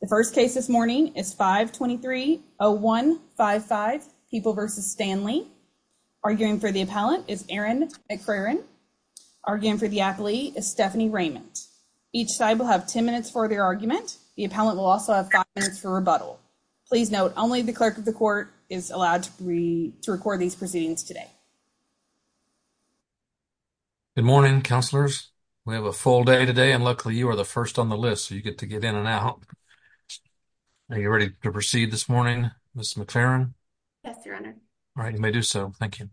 The first case this morning is 523-0155, People v. Stanley. Arguing for the appellant is Erin McFerrin. Arguing for the athlete is Stephanie Raymond. Each side will have 10 minutes for their argument. The appellant will also have five minutes for rebuttal. Please note only the clerk of the court is allowed to record these proceedings today. Good morning, counselors. We have a full day today and luckily you are the first on the list so you get to get in and out. Are you ready to proceed this morning, Ms. McFerrin? Yes, your honor. All right, you may do so. Thank you.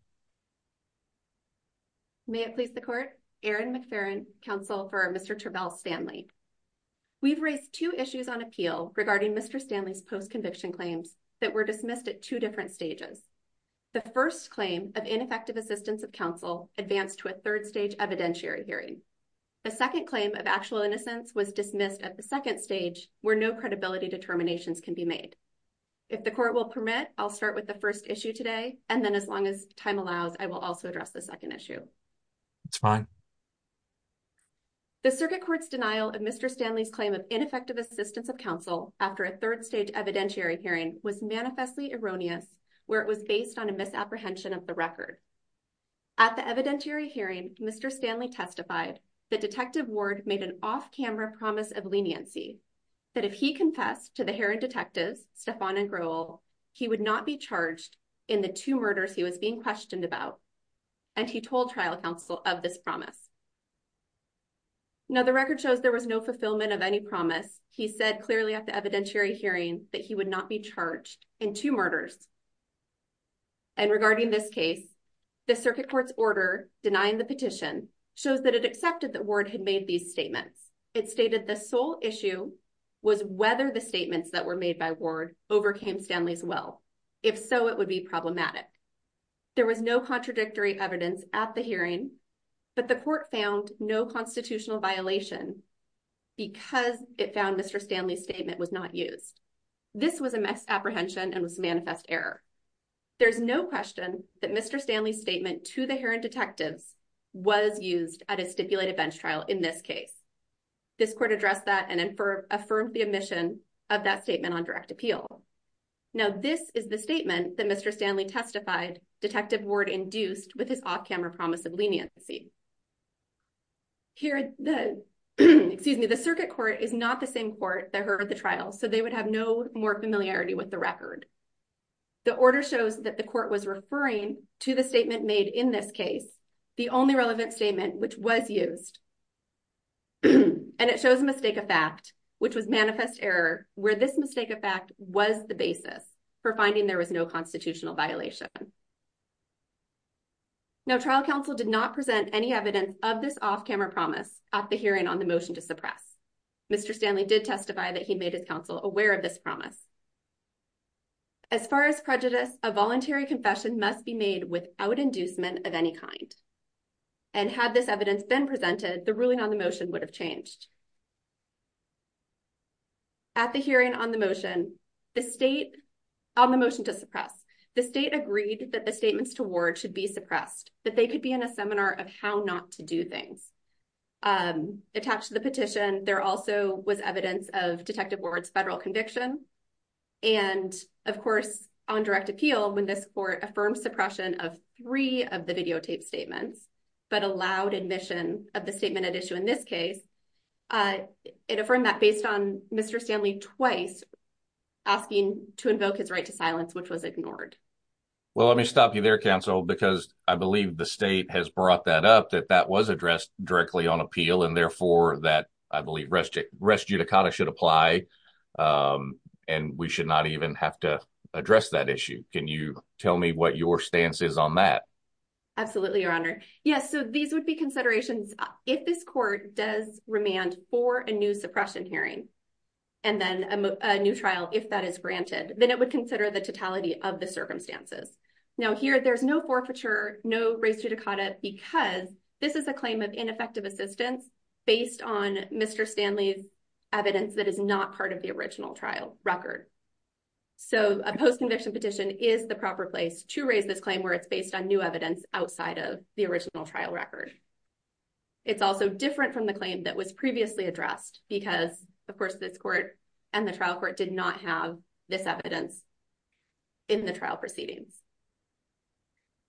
May it please the court, Erin McFerrin, counsel for Mr. Trebell Stanley. We've raised two issues on appeal regarding Mr. Stanley's post-conviction claims that were dismissed at two different stages. The first claim of ineffective assistance of counsel advanced to a third stage evidentiary hearing. The second claim of actual innocence was dismissed at the second stage where no credibility determinations can be made. If the court will permit, I'll start with the first issue today and then as long as time allows, I will also address the second issue. That's fine. The circuit court's denial of Mr. Stanley's claim of ineffective assistance of counsel after a third stage evidentiary hearing was manifestly erroneous where it was based on a misapprehension of the record. At the evidentiary hearing, Mr. Stanley testified that Detective Ward made an off-camera promise of leniency that if he confessed to the Heron detectives, Stefan and Grohl, he would not be charged in the two murders he was being questioned about. And he told trial counsel of this promise. Now, the record shows there was no fulfillment of any promise. He said clearly at the evidentiary hearing that he would not be charged in two murders. And regarding this case, the circuit court's order denying the petition shows that it accepted that Ward had made these statements. It stated the sole issue was whether the statements that were made by Ward overcame Stanley's will. If so, it would be problematic. There was no contradictory evidence at the hearing, but the court found no constitutional violation because it found Mr. Stanley's statement was not used. This was a misapprehension and was a manifest error. There's no question that Mr. Stanley's statement to the Heron detectives was used at a stipulated bench trial in this case. This court addressed that and affirmed the omission of that statement on direct appeal. Now, this is the statement that Mr. Stanley testified Detective Ward induced with his off-camera promise of leniency. Here, the circuit court is not the same court that heard the trial, so they would have no more familiarity with the record. The order shows that the court was referring to the statement made in this case, the only relevant statement which was used. And it shows a mistake of fact, which was manifest error, where this mistake of fact was the basis for finding there was no constitutional violation. Now, trial counsel did not present any evidence of this off-camera promise at the hearing on the motion to suppress. Mr. Stanley did testify that he made his counsel aware of this promise. As far as prejudice, a voluntary confession must be made without inducement of any kind. And had this evidence been presented, the ruling on the motion would have changed. At the hearing on the motion, the state on the motion to suppress, the state agreed that the statements to Ward should be suppressed, that they could be in a seminar of how not to do things. Attached to the petition, there also was evidence of Detective Ward's federal conviction. And of course, on direct appeal, when this court affirmed suppression of three of the videotaped statements, but allowed admission of the statement at issue in this case, it affirmed that based on Mr. Stanley twice asking to invoke his right to silence, which was ignored. Well, let me stop you there, counsel, because I believe the state has brought that up, that that was addressed directly on appeal and therefore that I believe rest judicata should apply and we should not even have to address that issue. Can you tell me what your stance is on that? Absolutely, Your Honor. Yes, so these would be considerations if this court does remand for a new suppression hearing and then a new trial, if that is granted, then it would consider the totality of the circumstances. Now, here there's no forfeiture, no rest judicata, because this is a claim of ineffective assistance based on Mr. Stanley's evidence that is not part of the original trial record. So a post-conviction petition is the proper place to raise this claim where it's based on new evidence outside of the original trial record. It's also different from the claim that was previously addressed because, of course, this court and the trial court did not have this evidence. In the trial proceedings.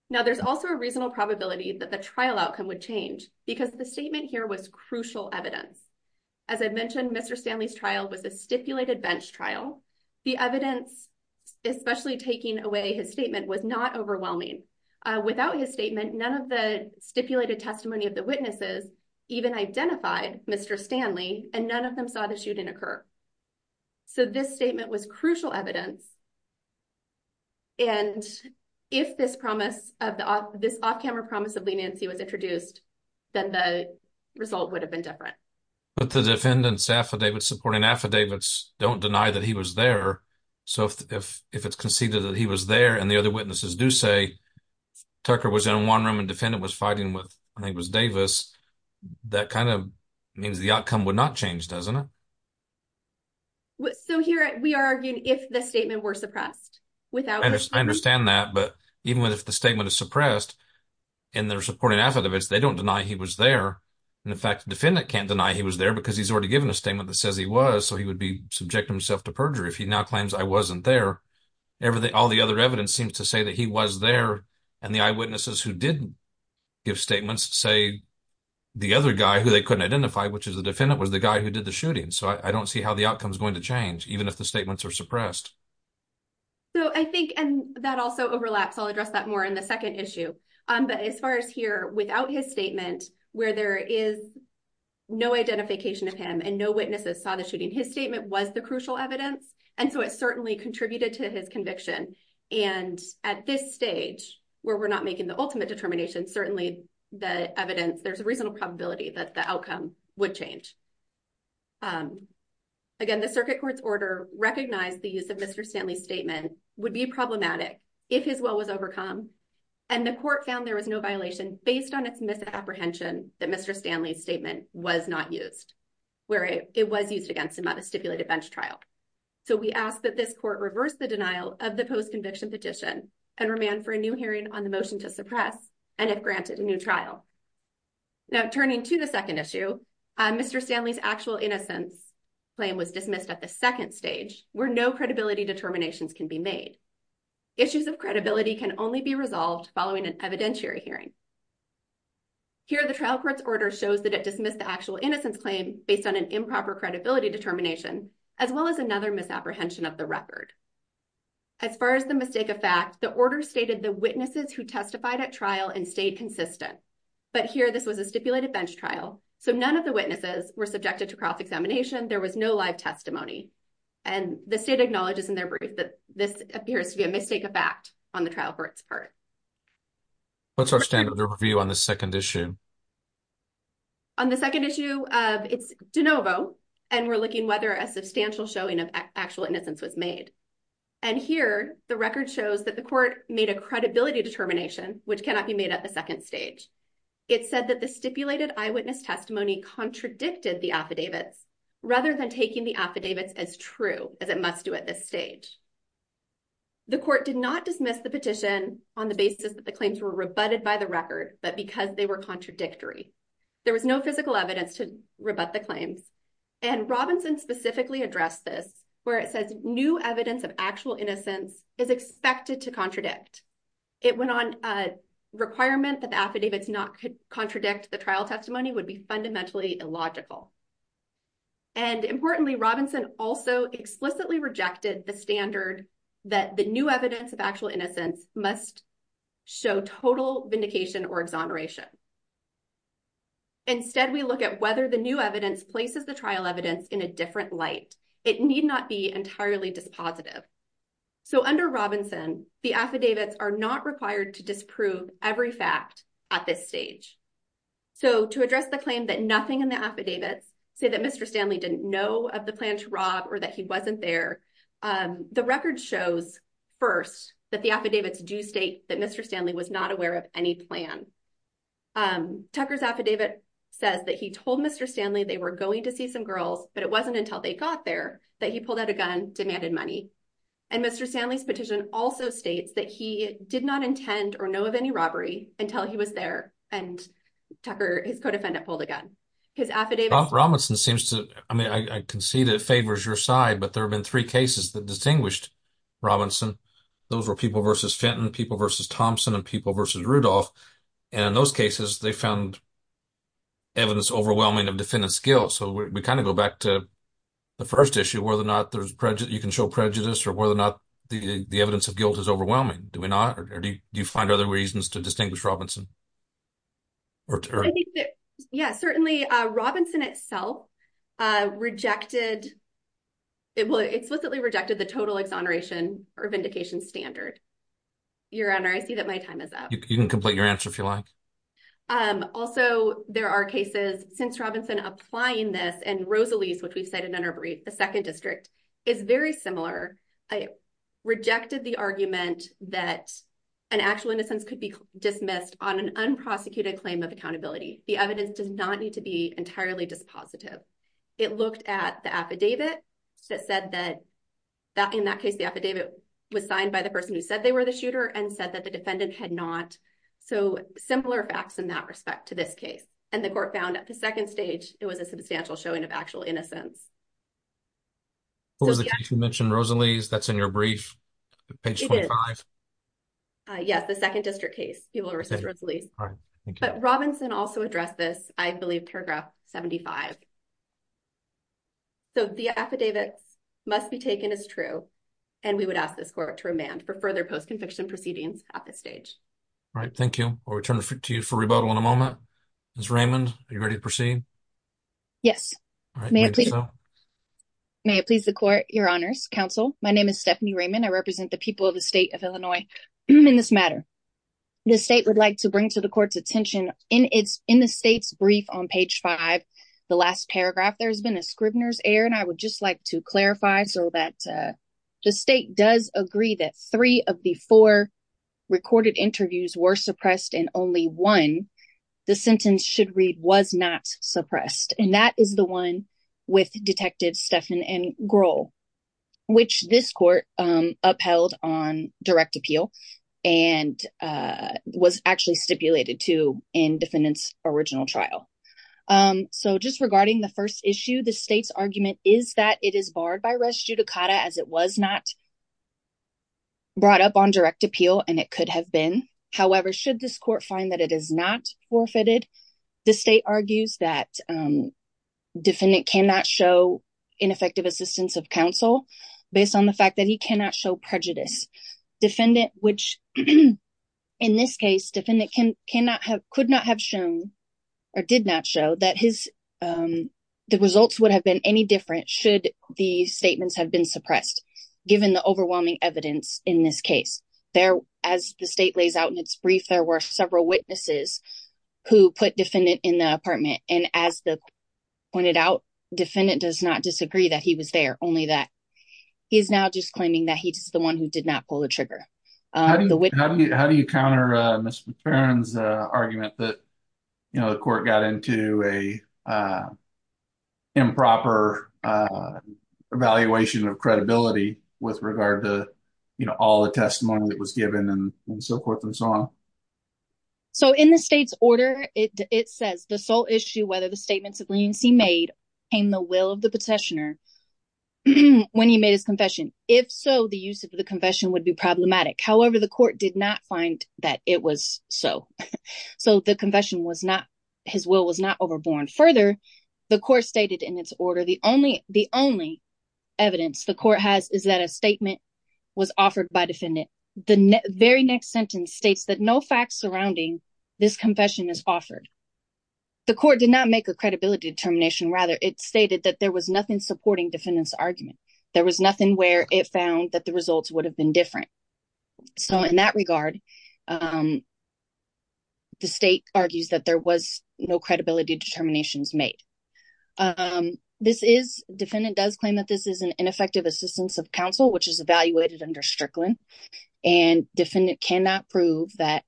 Now, there's also a reasonable probability that the trial outcome would change because the statement here was crucial evidence, as I mentioned, Mr. Stanley's trial was a stipulated bench trial. The evidence, especially taking away his statement, was not overwhelming. Without his statement, none of the stipulated testimony of the witnesses even identified Mr. Stanley and none of them saw the shooting occur. So this statement was crucial evidence. And if this promise of this off camera promise of leniency was introduced, then the result would have been different. But the defendants affidavit supporting affidavits don't deny that he was there. So if if if it's conceded that he was there and the other witnesses do say Tucker was in one room and defendant was fighting with I think it was Davis, that kind of means the outcome would not change, doesn't it? So here we are arguing if the statement were suppressed without I understand that. But even if the statement is suppressed in their supporting affidavits, they don't deny he was there. And in fact, the defendant can't deny he was there because he's already given a statement that says he was. So he would be subject himself to perjury if he now claims I wasn't there. Everything. All the other evidence seems to say that he was there. And the eyewitnesses who didn't give statements say the other guy who they couldn't identify, which is the defendant, was the guy who did the shooting. And so I don't see how the outcome is going to change, even if the statements are suppressed. So I think and that also overlaps, I'll address that more in the second issue. But as far as here, without his statement, where there is no identification of him and no witnesses saw the shooting, his statement was the crucial evidence. And so it certainly contributed to his conviction. And at this stage where we're not making the ultimate determination, certainly the evidence there's a reasonable probability that the outcome would change. Again, the circuit court's order recognized the use of Mr. Stanley's statement would be problematic if his will was overcome and the court found there was no violation based on its misapprehension that Mr. Stanley's statement was not used where it was used against him on a stipulated bench trial. So we ask that this court reverse the denial of the post conviction petition and remand for a new hearing on the motion to suppress and if granted a new trial. Now, turning to the second issue, Mr. Stanley's actual innocence claim was dismissed at the second stage where no credibility determinations can be made. Issues of credibility can only be resolved following an evidentiary hearing. Here, the trial court's order shows that it dismissed the actual innocence claim based on an improper credibility determination, as well as another misapprehension of the record. As far as the mistake of fact, the order stated the witnesses who testified at trial and but here this was a stipulated bench trial, so none of the witnesses were subjected to cross-examination. There was no live testimony and the state acknowledges in their brief that this appears to be a mistake of fact on the trial court's part. What's our standard review on the second issue? On the second issue, it's de novo and we're looking whether a substantial showing of actual innocence was made. And here, the record shows that the court made a credibility determination which cannot be made at the second stage. It said that the stipulated eyewitness testimony contradicted the affidavits rather than taking the affidavits as true as it must do at this stage. The court did not dismiss the petition on the basis that the claims were rebutted by the record, but because they were contradictory, there was no physical evidence to rebut the claims. And Robinson specifically addressed this where it says new evidence of actual innocence is expected to contradict. It went on a requirement that the affidavits not contradict the trial testimony would be fundamentally illogical. And importantly, Robinson also explicitly rejected the standard that the new evidence of actual innocence must show total vindication or exoneration. Instead, we look at whether the new evidence places the trial evidence in a different light. It need not be entirely dispositive. So under Robinson, the affidavits are not required to disprove every fact at this stage. So to address the claim that nothing in the affidavits say that Mr. Stanley didn't know of the plan to rob or that he wasn't there. The record shows first that the affidavits do state that Mr. Stanley was not aware of any plan. Tucker's affidavit says that he told Mr. Stanley they were going to see some girls, but it wasn't until they got there that he pulled out a gun, demanded money. And Mr. Stanley's petition also states that he did not intend or know of any robbery until he was there. And Tucker, his co-defendant, pulled a gun. His affidavit. Robinson seems to I mean, I can see that favors your side, but there have been three cases that distinguished Robinson. Those were people versus Fenton, people versus Thompson and people versus Rudolph. And in those cases, they found. Evidence overwhelming of defendant skill, so we kind of go back to the first issue, whether or not you can show prejudice or whether or not the evidence of guilt is overwhelming, do we not? Or do you find other reasons to distinguish Robinson? Yes, certainly Robinson itself rejected. It explicitly rejected the total exoneration or vindication standard. Your Honor, I see that my time is up. You can complete your answer, if you like. It's very similar. I rejected the argument that an actual innocence could be dismissed on an unprosecuted claim of accountability. The evidence does not need to be entirely dispositive. It looked at the affidavit that said that in that case, the affidavit was signed by the person who said they were the shooter and said that the defendant had not. So similar facts in that respect to this case. And the court found at the second stage, it was a substantial showing of actual innocence. Who was the case you mentioned? Rosaliz, that's in your brief, page 25. Yes, the second district case, Peeble v. Rosaliz. But Robinson also addressed this, I believe, paragraph 75. So the affidavit must be taken as true, and we would ask this court to remand for further post-conviction proceedings at this stage. All right, thank you. I'll return to you for rebuttal in a moment. Ms. Raymond, are you ready to proceed? Yes. May it please the court, your honors, counsel. My name is Stephanie Raymond. I represent the people of the state of Illinois in this matter. The state would like to bring to the court's attention in the state's brief on page 5, the last paragraph, there's been a Scribner's error. And I would just like to clarify so that the state does agree that three of the four recorded interviews were suppressed and only one the sentence should read was not suppressed. And that is the one with Detectives Stephan and Grohl, which this court upheld on direct appeal and was actually stipulated to in defendants original trial. So just regarding the first issue, the state's argument is that it is barred by res judicata as it was not brought up on direct appeal. And it could have been. However, should this court find that it is not forfeited, the state argues that defendant cannot show ineffective assistance of counsel based on the fact that he cannot show prejudice. Defendant, which in this case, defendant cannot have could not have shown or did not show that his the results would have been any different should the statements have been suppressed. Given the overwhelming evidence in this case there, as the state lays out in its brief, there were several witnesses who put defendant in the apartment. And as the pointed out, defendant does not disagree that he was there, only that he is now just claiming that he's the one who did not pull the trigger. How do you counter Ms. McFerrin's argument that, you know, the court got into a. Improper evaluation of credibility with regard to, you know, all the testimony that was brought up and so on. So in the state's order, it says the sole issue, whether the statements of leniency made in the will of the petitioner when he made his confession. If so, the use of the confession would be problematic. However, the court did not find that it was so. So the confession was not his will was not overborne. Further, the court stated in its order, the only the only evidence the court has is that a statement was offered by defendant. The very next sentence states that no facts surrounding this confession is offered. The court did not make a credibility determination, rather, it stated that there was nothing supporting defendants argument. There was nothing where it found that the results would have been different. So in that regard. The state argues that there was no credibility determinations made. This is defendant does claim that this is an ineffective assistance of counsel, which is and defendant cannot prove that.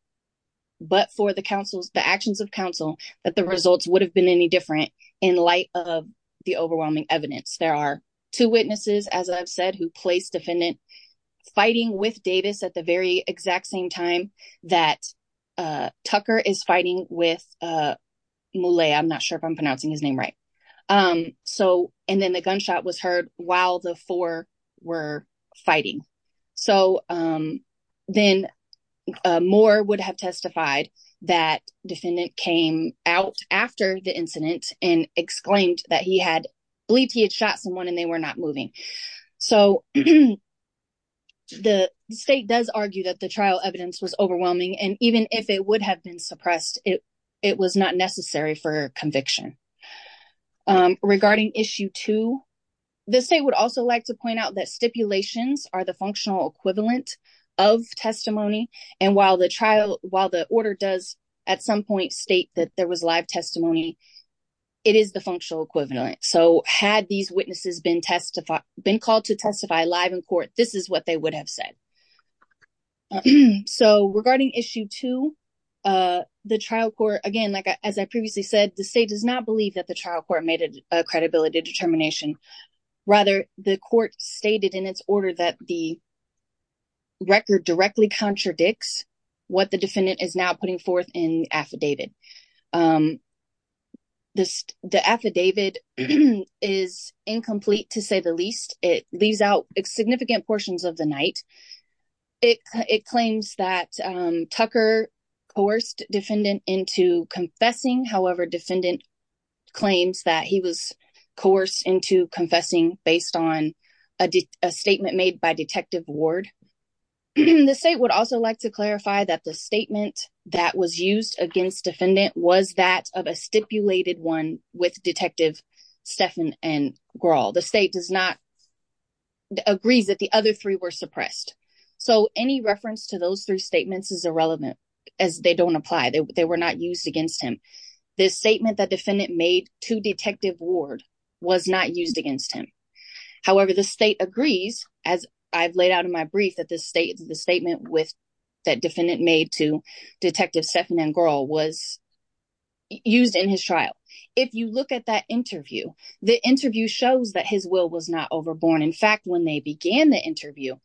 But for the council's, the actions of counsel, that the results would have been any different in light of the overwhelming evidence. There are two witnesses, as I've said, who placed defendant fighting with Davis at the very exact same time that Tucker is fighting with Mulay. I'm not sure if I'm pronouncing his name right. So and then the gunshot was heard while the four were fighting. So then Moore would have testified that defendant came out after the incident and exclaimed that he had believed he had shot someone and they were not moving. So the state does argue that the trial evidence was overwhelming. And even if it would have been suppressed, it, it was not necessary for conviction. Regarding issue two, the state would also like to point out that stipulations are the functional equivalent of testimony. And while the trial, while the order does at some point state that there was live testimony, it is the functional equivalent. So had these witnesses been testified, been called to testify live in court, this is what they would have said. So regarding issue two, the trial court, again, like as I previously said, the state does not believe that the trial court made a credibility determination. Rather, the court stated in its order that the record directly contradicts what the defendant is now putting forth in affidavit. The affidavit is incomplete to say the least. It leaves out significant portions of the night. It claims that Tucker coerced defendant into confessing. However, defendant claims that he was coerced into confessing based on a statement made by detective Ward. The state would also like to clarify that the statement that was used against defendant was that of a stipulated one with detective Stephan and Grawl. The state does not agree that the other three were suppressed. So any reference to those three statements is irrelevant as they don't apply. They were not used against him. This statement that defendant made to detective Ward was not used against him. However, the state agrees, as I've laid out in my brief, that this state, the statement with that defendant made to detective Stephan and Grawl was used in his trial. If you look at that interview, the interview shows that his will was not overborne. In fact, when they began the interview,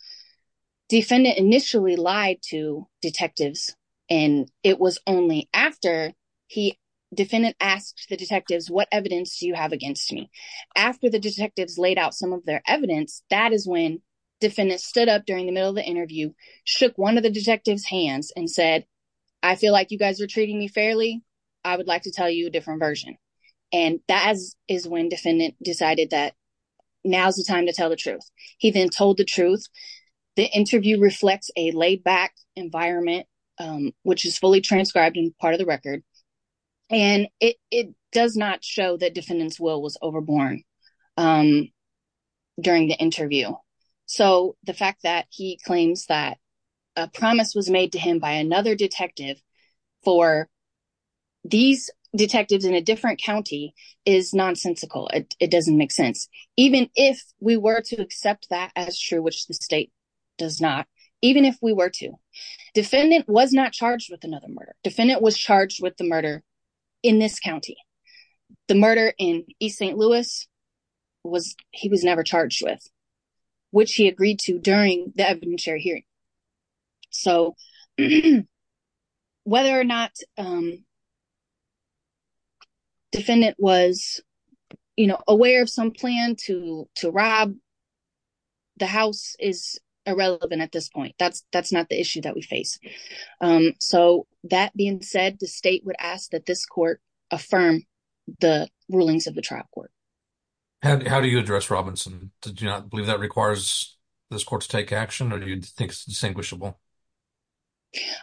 defendant initially lied to detectives and it was only after he, defendant asked the detectives, what evidence do you have against me? After the detectives laid out some of their evidence, that is when defendant stood up during the middle of the interview, shook one of the detectives hands and said, I feel like you guys are treating me fairly. I would like to tell you a different version. And that is when defendant decided that now's the time to tell the truth. He then told the truth. The interview reflects a laid back environment, which is fully transcribed in part of the record. And it does not show that defendant's will was overborne during the interview. So the fact that he claims that a promise was made to him by another detective for these detectives in a different County is nonsensical. It doesn't make sense. Even if we were to accept that as true, which the state does not, even if we were to, defendant was not charged with another murder, defendant was charged with the murder in this County. The murder in East St. Louis was, he was never charged with, which he agreed to during the evidentiary hearing. So whether or not, defendant was aware of some plan to, to rob the house is irrelevant at this point. That's, that's not the issue that we face. So that being said, the state would ask that this court affirm the rulings of the trial court. How do you address Robinson? Did you not believe that requires this court to take action? Or do you think it's distinguishable?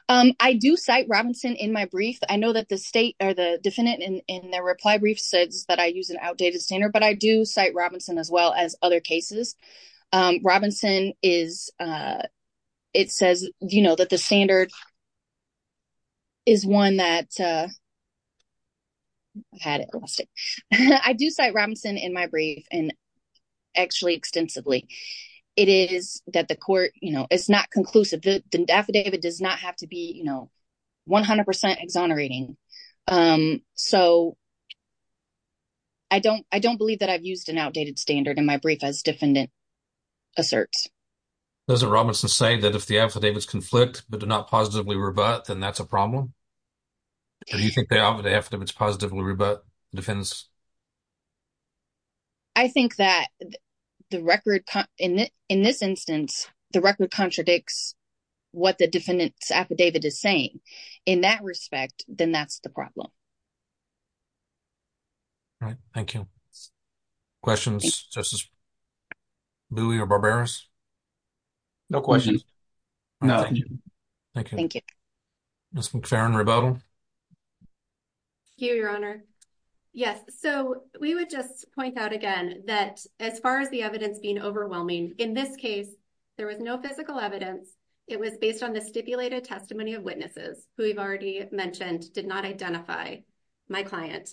Um, I do cite Robinson in my brief. I know that the state or the defendant in their reply brief says that I use an outdated standard, but I do cite Robinson as well as other cases. Um, Robinson is, uh, it says, you know, that the standard is one that, uh, I've had it, I lost it. I do cite Robinson in my brief and actually extensively. It is that the court, you know, it's not conclusive. The affidavit does not have to be, you know, 100% exonerating. Um, so I don't, I don't believe that I've used an outdated standard in my brief as defendant asserts. Doesn't Robinson say that if the affidavits conflict, but do not positively revert, then that's a problem. Do you think the affidavits positively revert defense? I think that the record in this instance, the record contradicts what the defendant's affidavit is saying in that respect, then that's the problem. Right. Thank you. Questions, just as Louie or Barbaros. No questions. No, thank you. Thank you. Ms. McFerrin, rebuttal. Thank you, your honor. Yes. So we would just point out again, that as far as the evidence being overwhelming, in this case, there was no physical evidence. It was based on the stipulated testimony of witnesses who we've already mentioned, did not identify my client.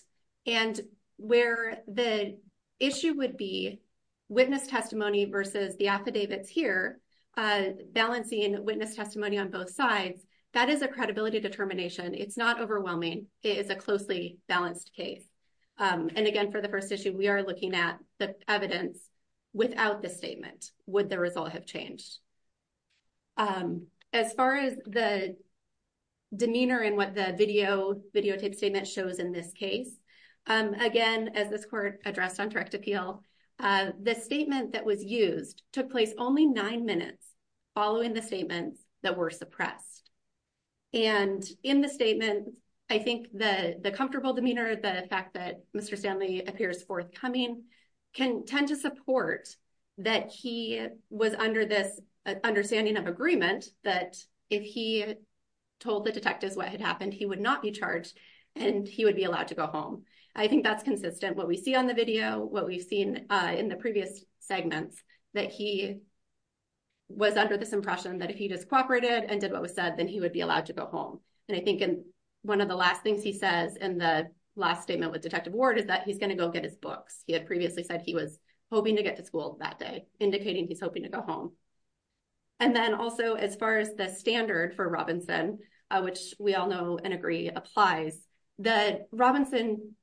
And where the issue would be. Witness testimony versus the affidavits here, uh, balancing witness testimony on both sides, that is a credibility determination. It's not overwhelming. It is a closely balanced case. Um, and again, for the first issue, we are looking at the evidence without the statement, would the result have changed? Um, as far as the demeanor and what the video videotape statement shows in this case, um, again, as this court addressed on direct appeal, uh, the statement that was used took place only nine minutes following the statements that were suppressed and in the statement, I think that the comfortable demeanor, the fact that Mr. Stanley appears forthcoming can tend to support that. He was under this understanding of agreement that if he told the detectives what had happened, he would not be charged and he would be allowed to go home. I think that's consistent. What we see on the video, what we've seen, uh, in the previous segments that he was under this impression that if he just cooperated and did what was said, then he would be allowed to go home. And I think in one of the last things he says in the last statement with detective ward is that he's going to go get his books. He had previously said he was hoping to get to school that day, indicating he's hoping to go home. And then also, as far as the standard for Robinson, uh, which we all know and agree applies that Robinson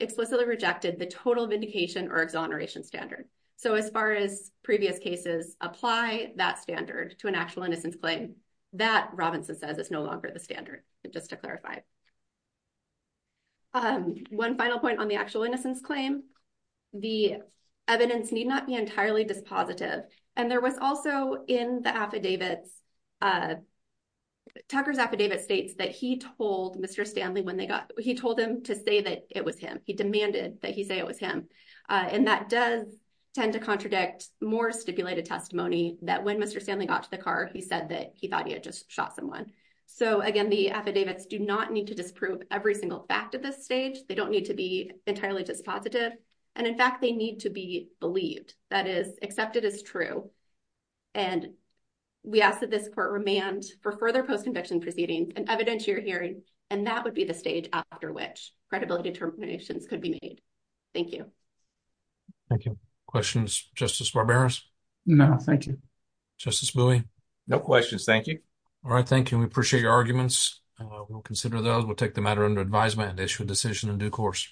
explicitly rejected the total vindication or exoneration standard. So as far as previous cases apply that standard to an actual innocence claim that Robinson says is no longer the standard just to clarify. Um, one final point on the actual innocence claim, the evidence need not be entirely dispositive. And there was also in the affidavits, uh, Tucker's affidavit states that he told Mr. Stanley when they got, he told him to say that it was him. He demanded that he say it was him. Uh, and that does tend to contradict more stipulated testimony that when Mr. Stanley got to the car, he said that he thought he had just shot someone. So again, the affidavits do not need to disprove every single fact at this stage. They don't need to be entirely dispositive. And in fact, they need to be believed that is accepted as true. And we asked that this court remand for further post-conviction proceeding and evidence you're hearing. And that would be the stage after which credibility determinations could be made. Thank you. Thank you. Questions. Justice Barberos. No, thank you. Justice Bowie. No questions. Thank you. All right. Thank you. We appreciate your arguments. Uh, we'll consider those. We'll take the matter under advisement and issue a decision in due course.